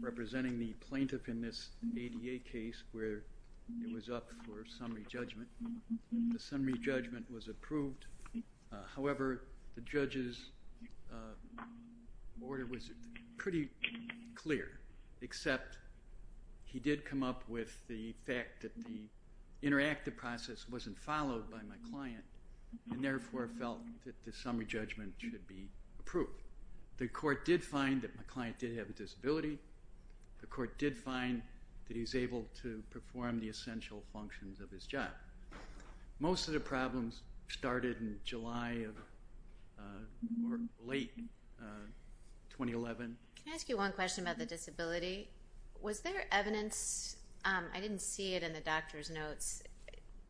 representing the plaintiff in this ADA case where it was up for summary judgment. The summary judgment was approved, however, the judge's order was pretty clear except he did come up with the fact that the interactive process wasn't followed by my client and therefore felt that the summary judgment should be approved. The court did find that my client did have a disability, the court did find that he's able to perform the essential functions of his job. Most of the problems started in July of late 2011. Can I ask you one question about the disability? Was there evidence, I didn't see it in the doctor's notes,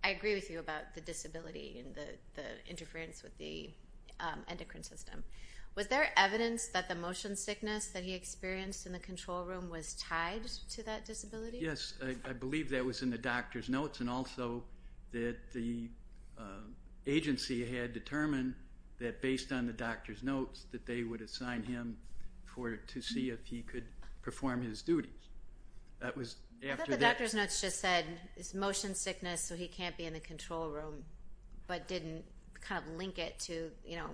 I agree with you about the disability and the interference with the endocrine system, was there evidence that the motion sickness that he experienced in the control room was tied to that disability? Yes, I believe that was in the doctor's notes and also that the agency had determined that based on the doctor's notes that they would assign him to see if he could perform his duties. I thought the doctor's notes just said it's motion sickness so he can't be in the control room but didn't kind of link it to you know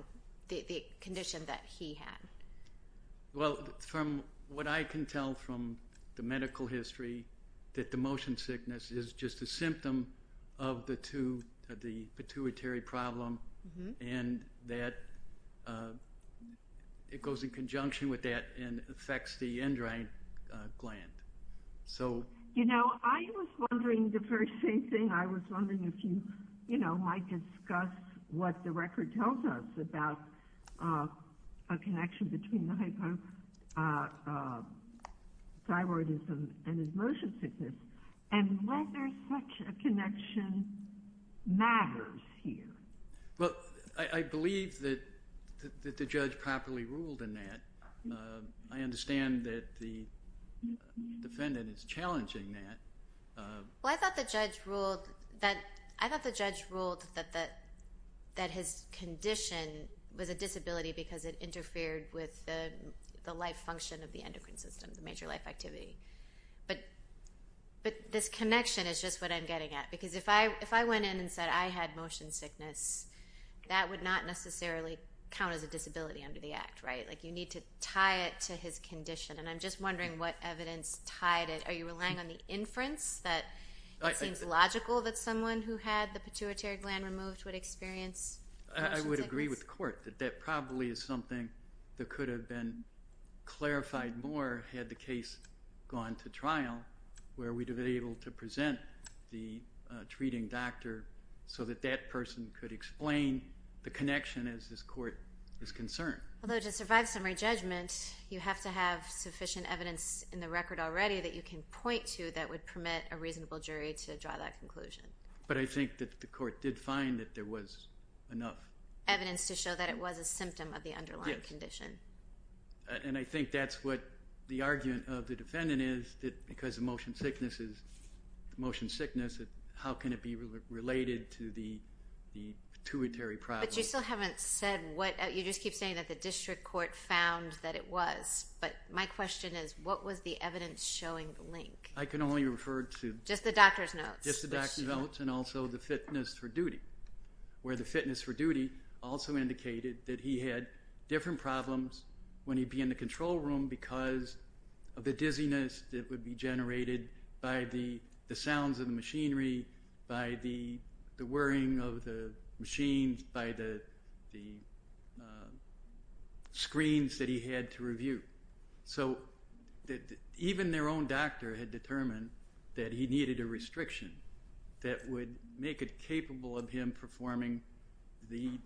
the condition that he had. Well from what I can tell from the medical history that the motion sickness is just a symptom of the pituitary problem and that it goes in conjunction with that and affects the endocrine gland. You know I was wondering the very same thing. I was wondering if you you know might discuss what the record tells us about a connection between the hypothyroidism and his motion sickness and whether such a connection matters here. Well I believe that the judge properly ruled in that. I understand that the defendant is Well I thought the judge ruled that his condition was a disability because it interfered with the life function of the endocrine system, the major life activity. But this connection is just what I'm getting at because if I if I went in and said I had motion sickness that would not necessarily count as a disability under the act, right? Like you need to tie it to his condition and I'm just wondering what evidence tied it. Are you relying on any inference that it seems logical that someone who had the pituitary gland removed would experience motion sickness? I would agree with court that that probably is something that could have been clarified more had the case gone to trial where we'd have been able to present the treating doctor so that that person could explain the connection as this court is concerned. Although to survive summary judgment you have to have sufficient evidence in the record already that you can point to that would permit a reasonable jury to draw that conclusion. But I think that the court did find that there was enough evidence to show that it was a symptom of the underlying condition. And I think that's what the argument of the defendant is that because of motion sickness is motion sickness that how can it be related to the the pituitary problem. But you still haven't said what you just keep saying that the district court found that it was. But my question is what was the evidence showing the link? I can only refer to just the doctor's notes and also the fitness for duty. Where the fitness for duty also indicated that he had different problems when he'd be in the control room because of the dizziness that would be generated by the the sounds of the machinery, by the whirring of the machines, by the view. So that even their own doctor had determined that he needed a restriction that would make it capable of him performing the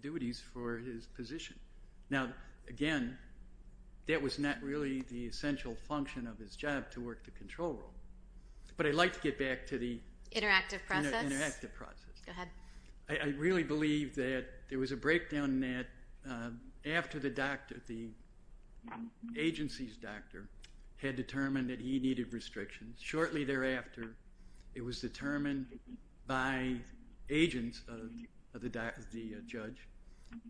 duties for his position. Now again that was not really the essential function of his job to work the control room. But I'd like to get back to the interactive process. I really believe that there was a breakdown in that after the doctor, the agency's doctor, had determined that he needed restrictions. Shortly thereafter it was determined by agents of the judge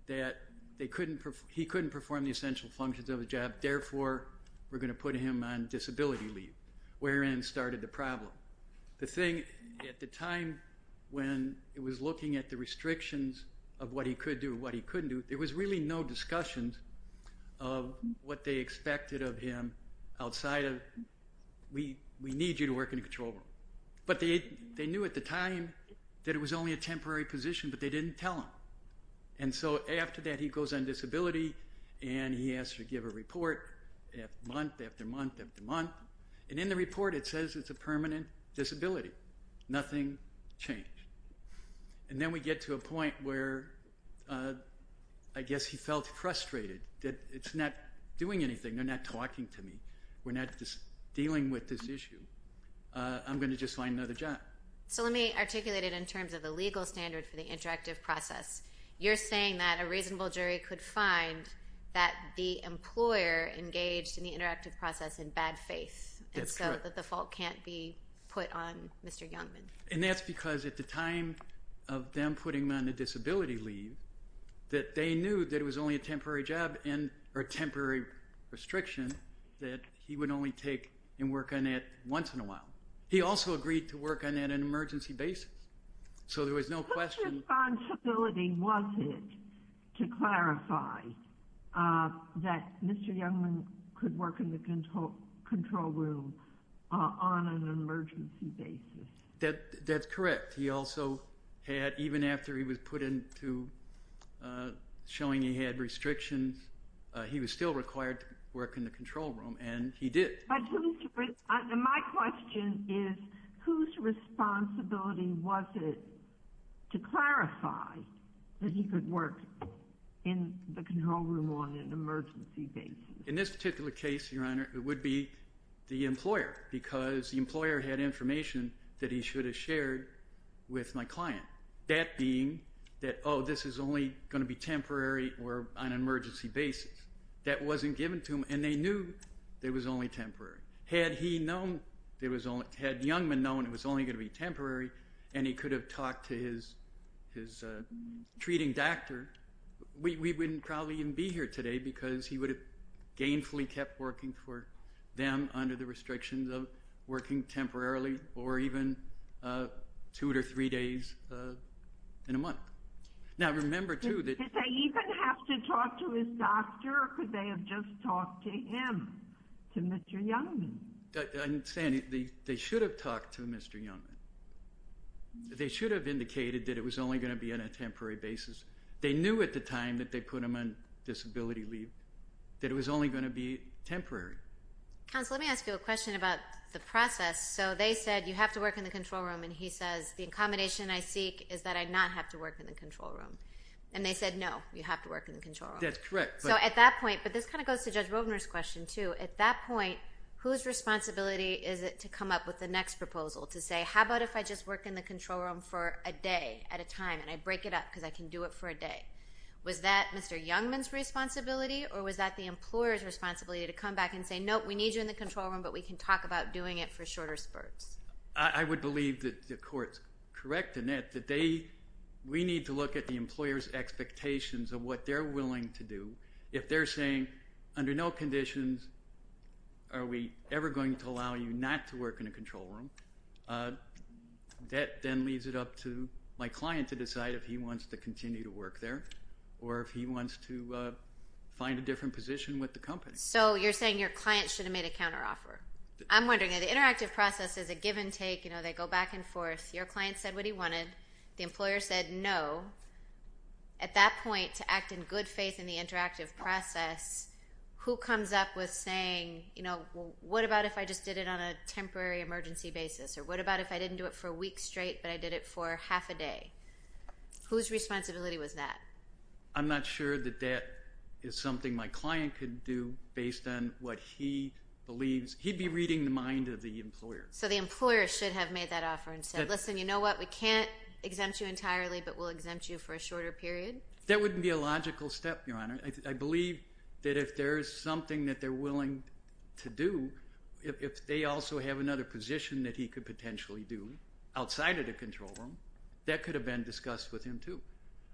that they couldn't, he couldn't perform the essential functions of the job therefore we're going to put him on disability leave. Wherein started the problem. The thing at the time when it was looking at the restrictions of what he could do what he couldn't do there was really no discussions of what they expected of him outside of we we need you to work in control room. But they knew at the time that it was only a temporary position but they didn't tell him. And so after that he goes on disability and he has to give a report month after month after month and in the we get to a point where I guess he felt frustrated that it's not doing anything they're not talking to me. We're not just dealing with this issue. I'm going to just find another job. So let me articulate it in terms of the legal standard for the interactive process. You're saying that a reasonable jury could find that the employer engaged in the interactive process in bad faith and so that the fault can't be put on Mr. Youngman. And that's because at the time of them putting him on the disability leave that they knew that it was only a temporary job and or temporary restriction that he would only take and work on it once in a while. He also agreed to work on that an emergency basis. So there was no question. What responsibility was it to clarify that Mr. Youngman could work in the control room on an emergency basis? That that's correct. He also had even after he was put into showing he had restrictions he was still required to work in the control room and he did. My question is whose responsibility was it to clarify that he could work in the control room on an emergency basis? In this particular case your honor it would be the employer because the employer had information that he should have shared with my client. That being that oh this is only going to be temporary or on an emergency basis. That wasn't given to him and they knew there was only temporary. Had he known there was only had Youngman known it was only going to be temporary and he could have talked to his his treating doctor we wouldn't probably even be here today because he would have gainfully kept working for them under the restrictions of working temporarily or even two or three days in a month. Now remember too that... Did they even have to talk to his doctor or could they have just talked to him? To Mr. Youngman? I'm saying they should have talked to Mr. Youngman. They should have indicated that it was only going to be on a temporary basis. They knew at the time that they put him on disability leave that it was only going to be temporary. Counsel let me ask you a question about the process. So they said you have to work in the control room and he says the accommodation I seek is that I not have to work in the control room and they said no you have to work in the control room. That's correct. So at that point but this kind of goes to Judge Rovner's question too. At that point whose responsibility is it to come up with the next proposal to say how about if I just work in the control room for a day at a time and I break it up because I can do it for a day. Was that Mr. Youngman's responsibility or was that the employer's responsibility to come back and say nope we need you in the control room but we can talk about doing it for shorter spurts? I would believe that the court's correct in that that they we need to look at the employer's expectations of what they're willing to do if they're saying under no conditions are we ever going to allow you not to work in a control room. That then leaves it up to my client to decide if he wants to work in a different position with the company. So you're saying your client should have made a counteroffer. I'm wondering the interactive process is a give-and-take you know they go back and forth your client said what he wanted the employer said no. At that point to act in good faith in the interactive process who comes up with saying you know what about if I just did it on a temporary emergency basis or what about if I didn't do it for a week straight but I did it for half a day. Whose responsibility was that? I'm not sure that that is something my client could do based on what he believes. He'd be reading the mind of the employer. So the employer should have made that offer and said listen you know what we can't exempt you entirely but we'll exempt you for a shorter period? That wouldn't be a logical step your honor. I believe that if there's something that they're willing to do if they also have another position that he could potentially do outside of the control room that could have been discussed with him too.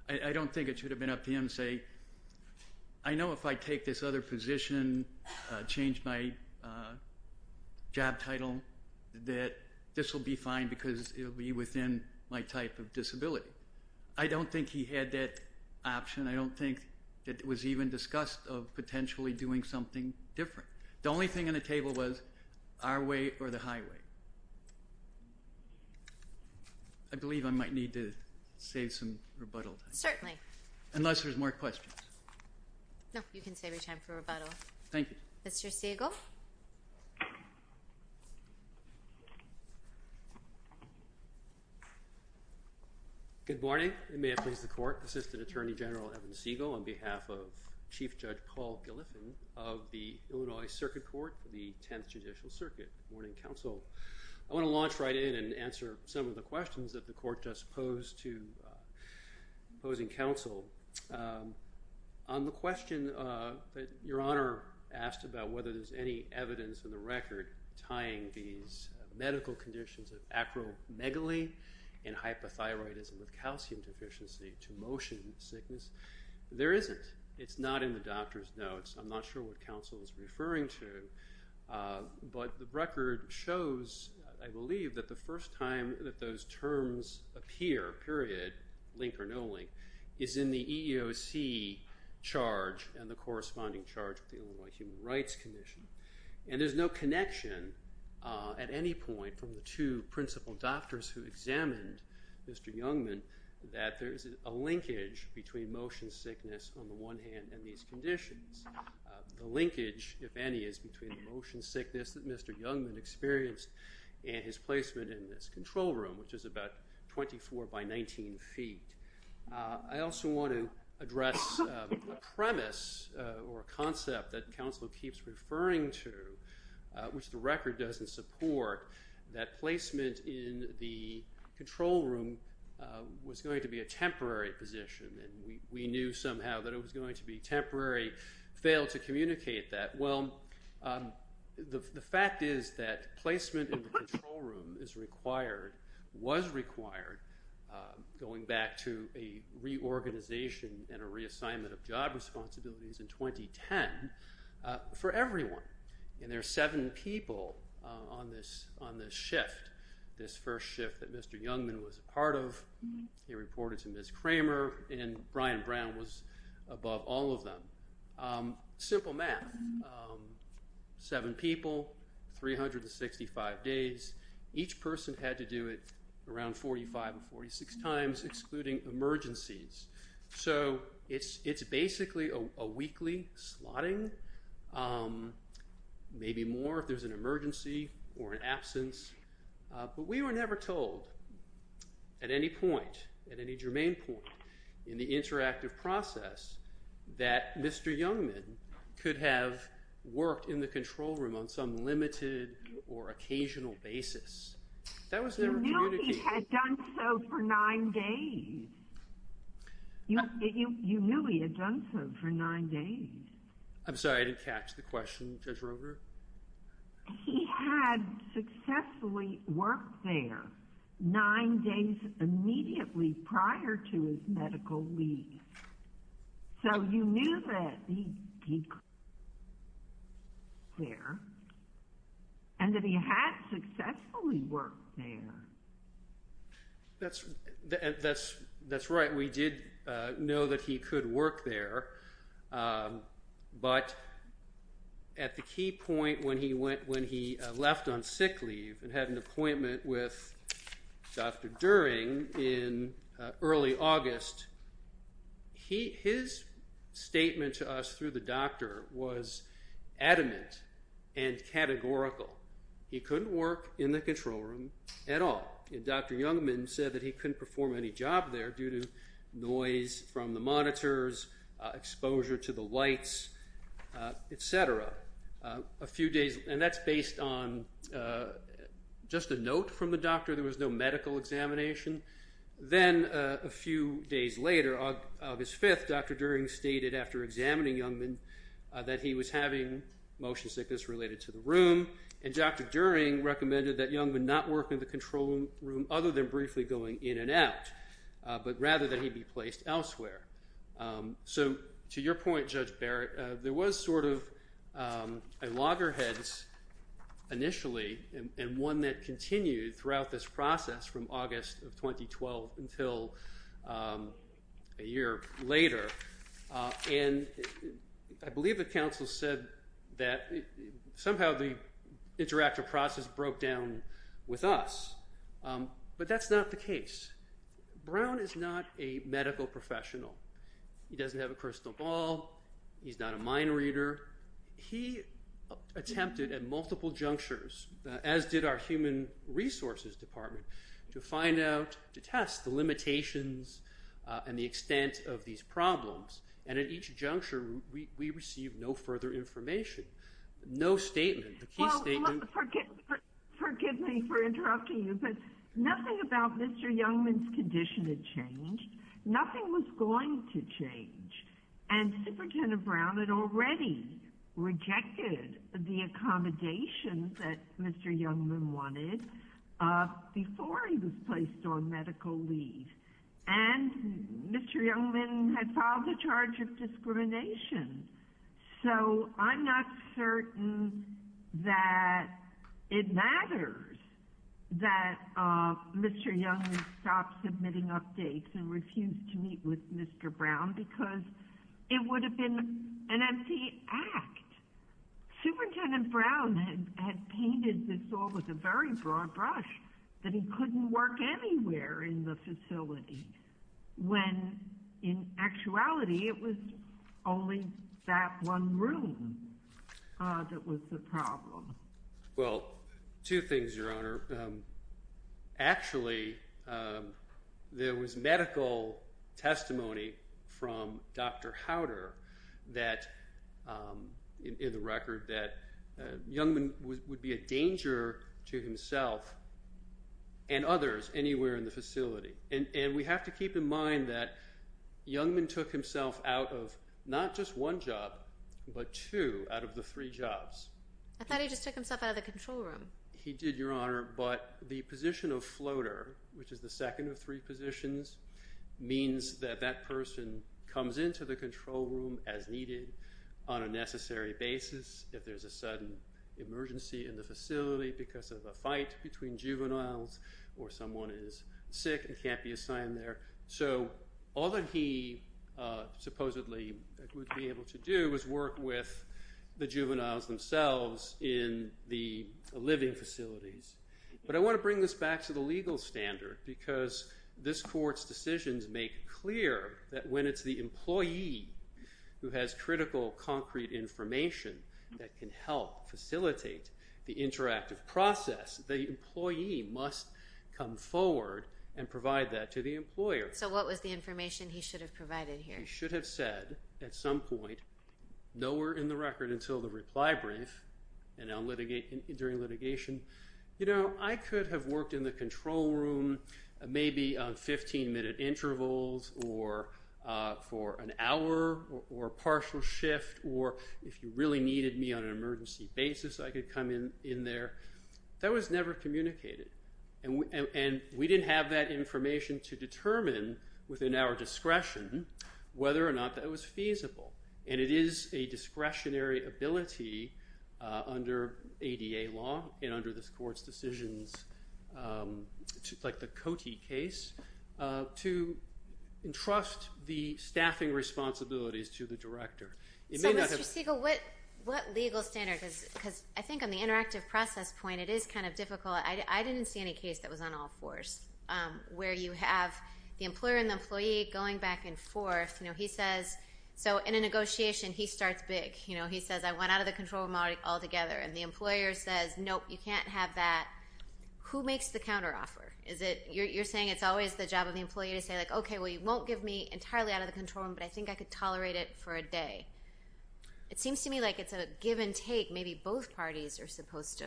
I don't think it should have been up to him to say I know if I take this other position change my job title that this will be fine because it'll be within my type of disability. I don't think he had that option. I don't think that it was even discussed of potentially doing something different. The only thing on the table was our way or the highway. I believe I know you can save your time for rebuttal. Thank you. Mr. Siegel. Good morning. May I please the court. Assistant Attorney General Evan Siegel on behalf of Chief Judge Paul Gilliffin of the Illinois Circuit Court for the 10th Judicial Circuit. Good morning counsel. I want to launch right in and answer some of the questions that the court just posed to opposing counsel. On the question that your honor asked about whether there's any evidence in the record tying these medical conditions of acromegaly and hypothyroidism with calcium deficiency to motion sickness. There isn't. It's not in the doctor's notes. I'm not sure what counsel is referring to but the record shows I those terms appear period link or no link is in the EEOC charge and the corresponding charge of the Illinois Human Rights Commission. And there's no connection at any point from the two principal doctors who examined Mr. Youngman that there is a linkage between motion sickness on the one hand and these conditions. The linkage if any is between the motion sickness that Mr. Youngman had and his placement in this control room which is about 24 by 19 feet. I also want to address a premise or a concept that counsel keeps referring to which the record doesn't support that placement in the control room was going to be a temporary position and we knew somehow that it was going to be temporary, failed to communicate that. Well the fact is that placement in the control room is required, was required going back to a reorganization and a reassignment of job responsibilities in 2010 for everyone. And there are seven people on this shift. This first shift that Mr. Youngman was a part of. He reported to Ms. Kramer and Brian Brown was above all of them. Simple math. Seven people, 365 days. Each person had to do it around 45 and 46 times excluding emergencies. So it's it's basically a weekly slotting. Maybe more if there's an emergency or an interactive process that Mr. Youngman could have worked in the control room on some limited or occasional basis. That was never communicated. You knew he had done so for nine days. You knew he had done so for nine days. I'm sorry I didn't catch the question Judge So you knew that he could work there and that he had successfully worked there. That's that's that's right we did know that he could work there but at the key point when he went when he left on sick leave and had an appointment with Dr. Youngman in early August, his statement to us through the doctor was adamant and categorical. He couldn't work in the control room at all. Dr. Youngman said that he couldn't perform any job there due to noise from the monitors, exposure to the lights, etc. A few days and that's based on just a note from the doctor. There was no medical examination. Then a few days later, August 5th, Dr. Dering stated after examining Youngman that he was having motion sickness related to the room and Dr. Dering recommended that Youngman not work in the control room other than briefly going in and out but rather than he be placed elsewhere. So to your point Judge Barrett, there was sort of a loggerheads initially and one that process from August of 2012 until a year later and I believe the council said that somehow the interactive process broke down with us but that's not the case. Brown is not a medical professional. He doesn't have a crystal ball. He's not a mind reader. He attempted at multiple junctures as did our human resources department to find out, to test the limitations and the extent of these problems and at each juncture we received no further information, no statement. Forgive me for interrupting you but nothing about Mr. Youngman's condition had changed. Nothing was going to change and Superintendent Brown had already rejected the accommodations that Mr. Youngman wanted before he was placed on medical leave and Mr. Youngman had filed a charge of discrimination so I'm not certain that it matters that Mr. Youngman stopped submitting updates and empty act. Superintendent Brown had painted this all with a very broad brush that he couldn't work anywhere in the facility when in actuality it was only that one room that was the problem. Well two things your honor. Actually there was medical testimony from Dr. Howder that in the record that Youngman would be a danger to himself and others anywhere in the facility and we have to keep in mind that Youngman took himself out of not just one job but two out of the three jobs. I thought he just took himself out of the control room. He did your honor but the means that that person comes into the control room as needed on a necessary basis if there's a sudden emergency in the facility because of a fight between juveniles or someone is sick and can't be assigned there. So all that he supposedly would be able to do is work with the juveniles themselves in the living facilities but I want to bring this back to the legal standard because this court's decisions make clear that when it's the employee who has critical concrete information that can help facilitate the interactive process the employee must come forward and provide that to the employer. So what was the information he should have provided here? He should have said at some point nowhere in the record until the reply brief and during litigation you know I could have worked in the control room maybe 15 minute intervals or for an hour or partial shift or if you really needed me on an emergency basis I could come in in there. That was never communicated and we didn't have that information to determine within our discretion whether or not that was feasible and it is a like the Cote case to entrust the staffing responsibilities to the director. So Mr. Siegel what legal standard because I think on the interactive process point it is kind of difficult I didn't see any case that was on all fours where you have the employer and the employee going back and forth you know he says so in a negotiation he starts big you know he says I went out of the control room all together and the employer says nope you can't have that who makes the counteroffer is it you're saying it's always the job of the employee to say like okay well you won't give me entirely out of the control room but I think I could tolerate it for a day. It seems to me like it's a give and take maybe both parties are supposed to.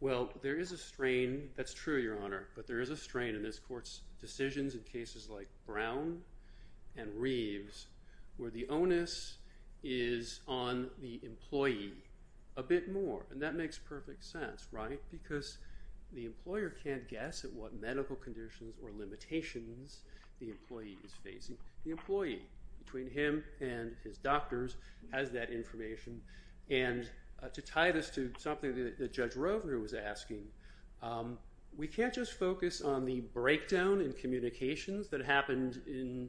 Well there is a strain that's true Your Honor but there is a strain in this court's decisions in cases like Brown and Reeves where the onus is on the employee a bit more and that makes perfect sense right because the employer can't guess at what medical conditions or limitations the employee is facing. The employee between him and his doctors has that information and to tie this to something that Judge Rovner was asking we can't just focus on the breakdown in communications that happened in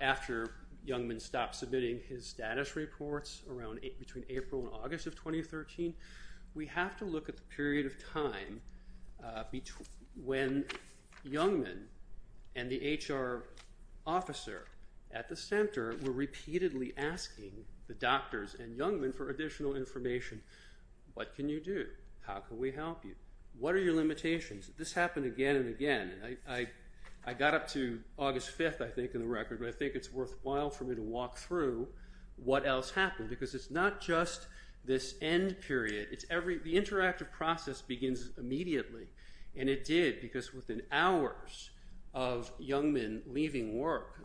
after Youngman stopped submitting his status reports around between April and August of 2013 we have to look at the period of time when Youngman and the HR officer at the center were repeatedly asking the doctors and Youngman for additional information. What can you do? How can we help you? What are your limitations? This happened again and again. I got up to August 5th I think in the record but I think it's worthwhile for me to walk through what else happened because it's not just this end period it's every the interactive process begins immediately and it did because within hours of Youngman leaving work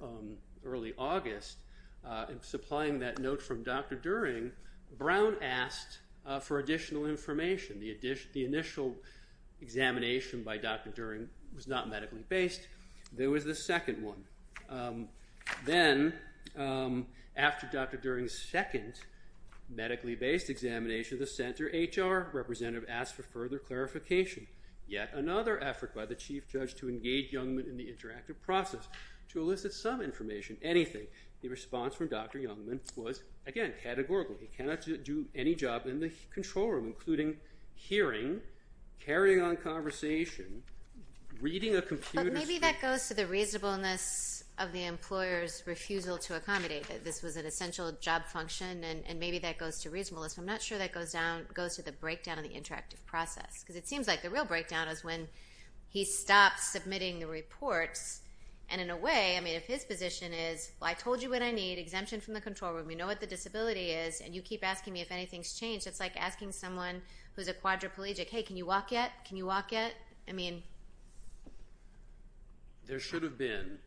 early August and supplying that note from Dr. During Brown asked for additional information. The initial examination by Dr. During was not medically based there was the second one then after Dr. During's second medically based examination the center HR representative asked for further clarification yet another effort by the chief judge to engage Youngman in the interactive process to elicit some information anything the response from Dr. Youngman was again categorically cannot do any job in the control room including hearing, carrying on conversation, reading a computer. Maybe that goes to the reasonableness of the employers refusal to accommodate that this was an essential job function and maybe that goes to reasonableness I'm not sure that goes down goes to the breakdown of the interactive process because it seems like the real breakdown is when he stopped submitting the reports and in a way I mean if his position is I told you what I need exemption from the control room you know what the disability is and you keep asking me if anything's changed it's like asking someone who's a quadriplegic hey can you walk yet can you walk yet I mean there should have been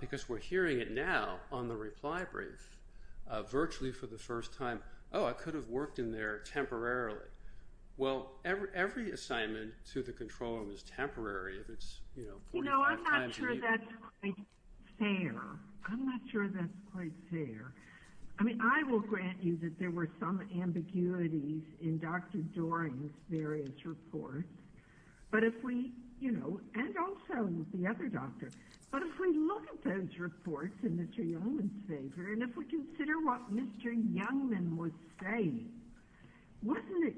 because we're hearing it now on the reply brief virtually for the first time oh I could have worked in there temporarily well every assignment to the control room is temporary if it's you know I'm not sure that's quite fair I mean I will grant you that there were some ambiguities in Dr. Doering's various reports but if we you know and also the other doctor but if we look at those reports in Mr. Youngman's favor and if we consider what Mr. Youngman was saying wasn't it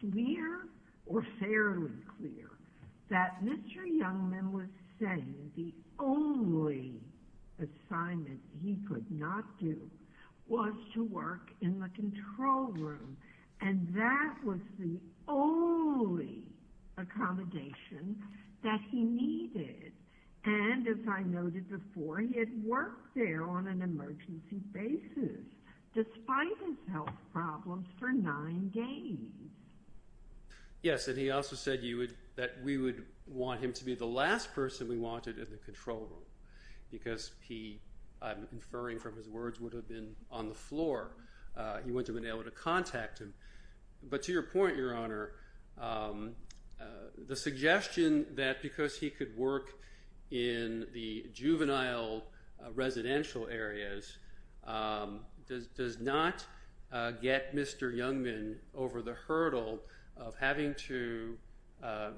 clear or fairly clear that Mr. Youngman was saying the only assignment he could not do was to work in the control room and that was the only accommodation that he needed and as I noted before he had worked there on an emergency basis despite his health problems for nine days yes and he also said you would that we would want him to be the last person we wanted in the control room because he inferring from his words would have been on the floor you wouldn't have been able to contact him but to your point your honor the suggestion that because he could work in the juvenile residential areas does not get Mr. Youngman over the hurdle of having to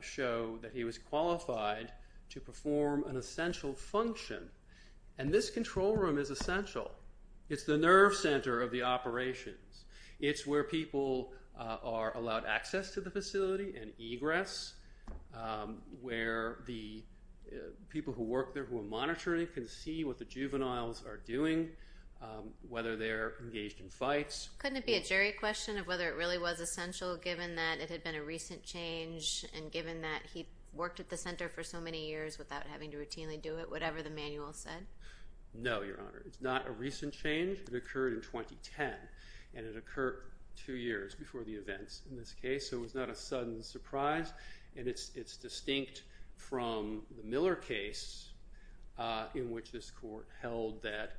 show that he was qualified to perform an essential function and this control room is the nerve center of the operations it's where people are allowed access to the facility and egress where the people who work there who are monitoring can see what the juveniles are doing whether they're engaged in fights couldn't be a jury question of whether it really was essential given that it had been a recent change and given that he worked at the center for so many years without having to routinely do it whatever the manual said no your honor it's not a recent change it occurred in 2010 and it occurred two years before the events in this case so it's not a sudden surprise and it's it's distinct from the Miller case in which this court held that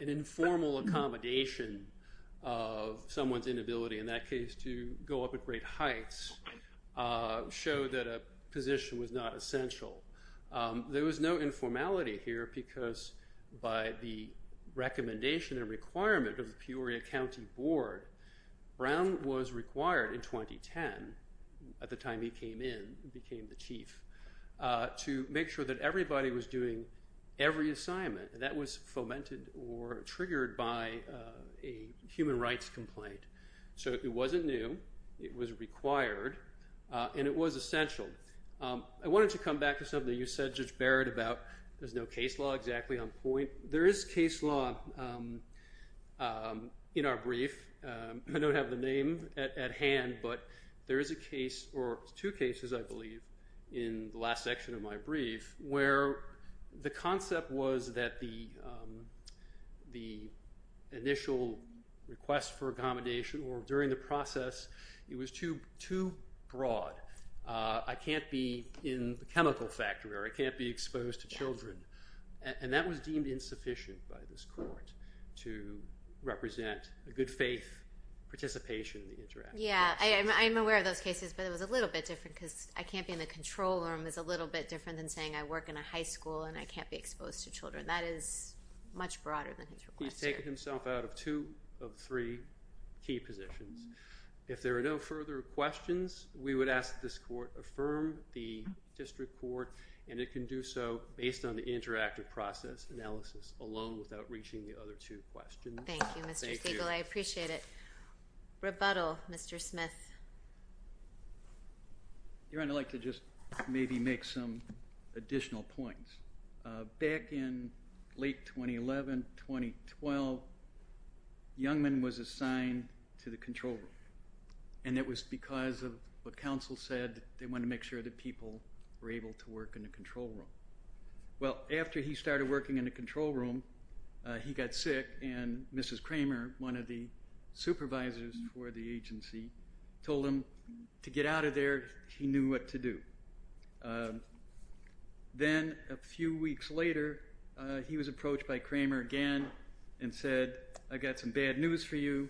an informal accommodation of someone's inability in that case to go up at great heights show that a position was not essential there was no informality here because by the recommendation and requirement of Peoria County Board Brown was required in 2010 at the time he came in became the chief to make sure that everybody was doing every assignment that was fomented or triggered by a human rights complaint so it wasn't new it was required and it was essential I wanted to come back to something you said Judge Barrett about there's no case law exactly on point there is case law in our brief I don't have the name at hand but there is a case or two cases I believe in the last section of my brief where the concept was that the the initial request for accommodation or during the process it was too too broad I can't be in the chemical factory or I can't be exposed to children and that was deemed insufficient by this court to represent a good faith participation in the interact yeah I am aware of those cases but it was a little bit different because I can't be in the control room is a little bit different than saying I work in a high school and I can't be exposed to children that is much broader than he's taking himself out of two of three key positions if there are no further questions we would ask this court affirm the district court and it can do so based on the interactive process analysis alone without reaching the other two questions I appreciate it rebuttal mr. Smith you're gonna like to just maybe make some additional points back in late 2011 2012 Youngman was assigned to the control room and it was because of what council said they want to make sure that people were able to work in a control room well after he started working in a control room he got sick and mrs. Kramer one of the supervisors for the agency told him to later he was approached by Kramer again and said I got some bad news for you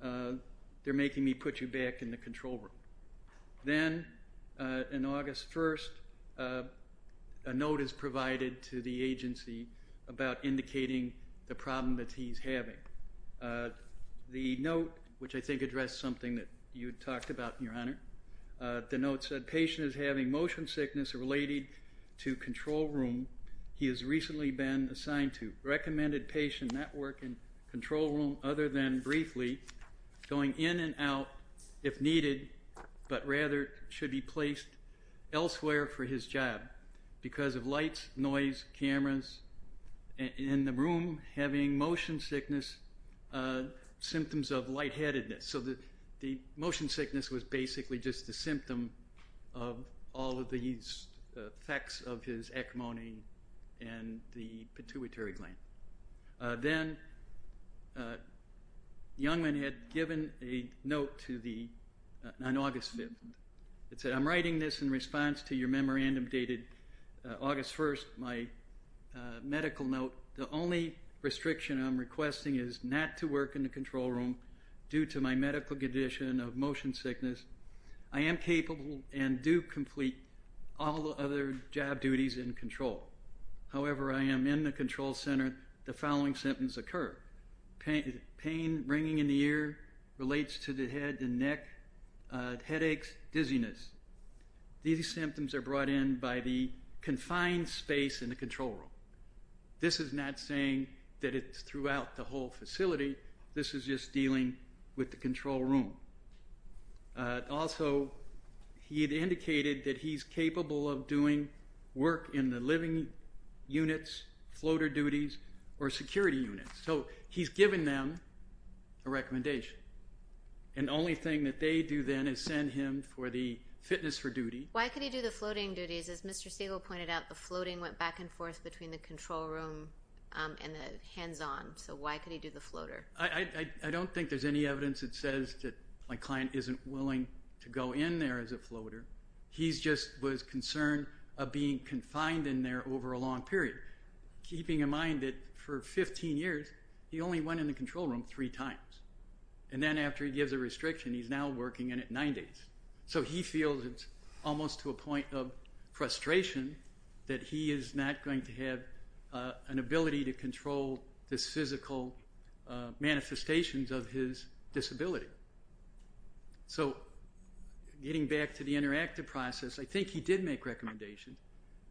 they're making me put you back in the control room then in August 1st a note is provided to the agency about indicating the problem that he's having the note which I think addressed something that you talked about in your honor the note said patient is having motion sickness related to control room he has recently been assigned to recommended patient network and control room other than briefly going in and out if needed but rather should be placed elsewhere for his job because of lights noise cameras in the room having motion sickness symptoms of lightheadedness so that the motion sickness was basically just a symptom of all of these effects of his hegemony and the pituitary gland then Youngman had given a note to the on August 5th it said I'm writing this in response to your memorandum dated August 1st my medical note the only restriction I'm requesting is not to work in the control room due to my medical condition of motion sickness I am capable and do complete all the other job duties in control however I am in the control center the following sentence occur pain ringing in the ear relates to the head and neck headaches dizziness these symptoms are brought in by the confined space in the control room this is not saying that it's throughout the whole facility this is just dealing with the control room also he had indicated that he's capable of doing work in the living units floater duties or security units so he's given them a recommendation and only thing that they do then is send him for the fitness for duty why could he do the floating duties as Mr. Siegel pointed out the floating went back and forth between the control room and the hands-on so why could he do the floater I don't think there's any evidence that says that my client isn't willing to go in there as a floater he's just was concerned of being confined in there over a long period keeping in mind that for 15 years he only went in the control room three times and then after he gives a restriction he's now working in at nine days so he feels it's almost to a point of frustration that he is not going to have an ability to control the physical manifestations of his disability so getting back to the interactive process I think he did make recommendations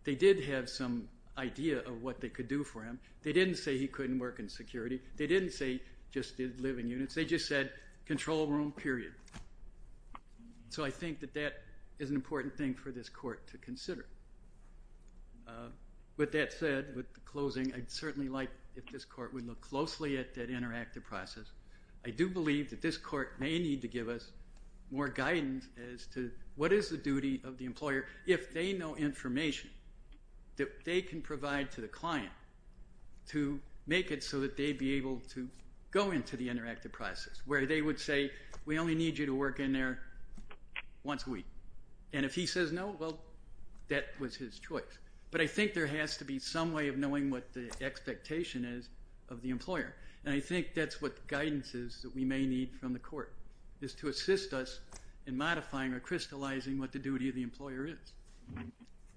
they did have some idea of what they could do for him they didn't say he couldn't work in security they didn't say just did living units they just said control room period so I think that that is an important thing for this court to consider with that said with the closing I'd certainly like if this court would look closely at that interactive process I do believe that this court may need to give us more guidance as to what is the duty of the employer if they know information that they can provide to the client to make it so that they be able to go into the interactive process where they would say we only need you to work in there once a week and if he says no well that was his choice but I think there has to be some way of knowing what the expectation is of the employer and I think that's what guidance is that we may need from the court is to assist us in modifying or crystallizing what the duty of the employer is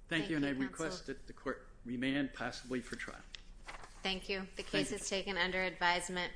thank you and I request that the court remand possibly for trial thank you the case is taken under advisement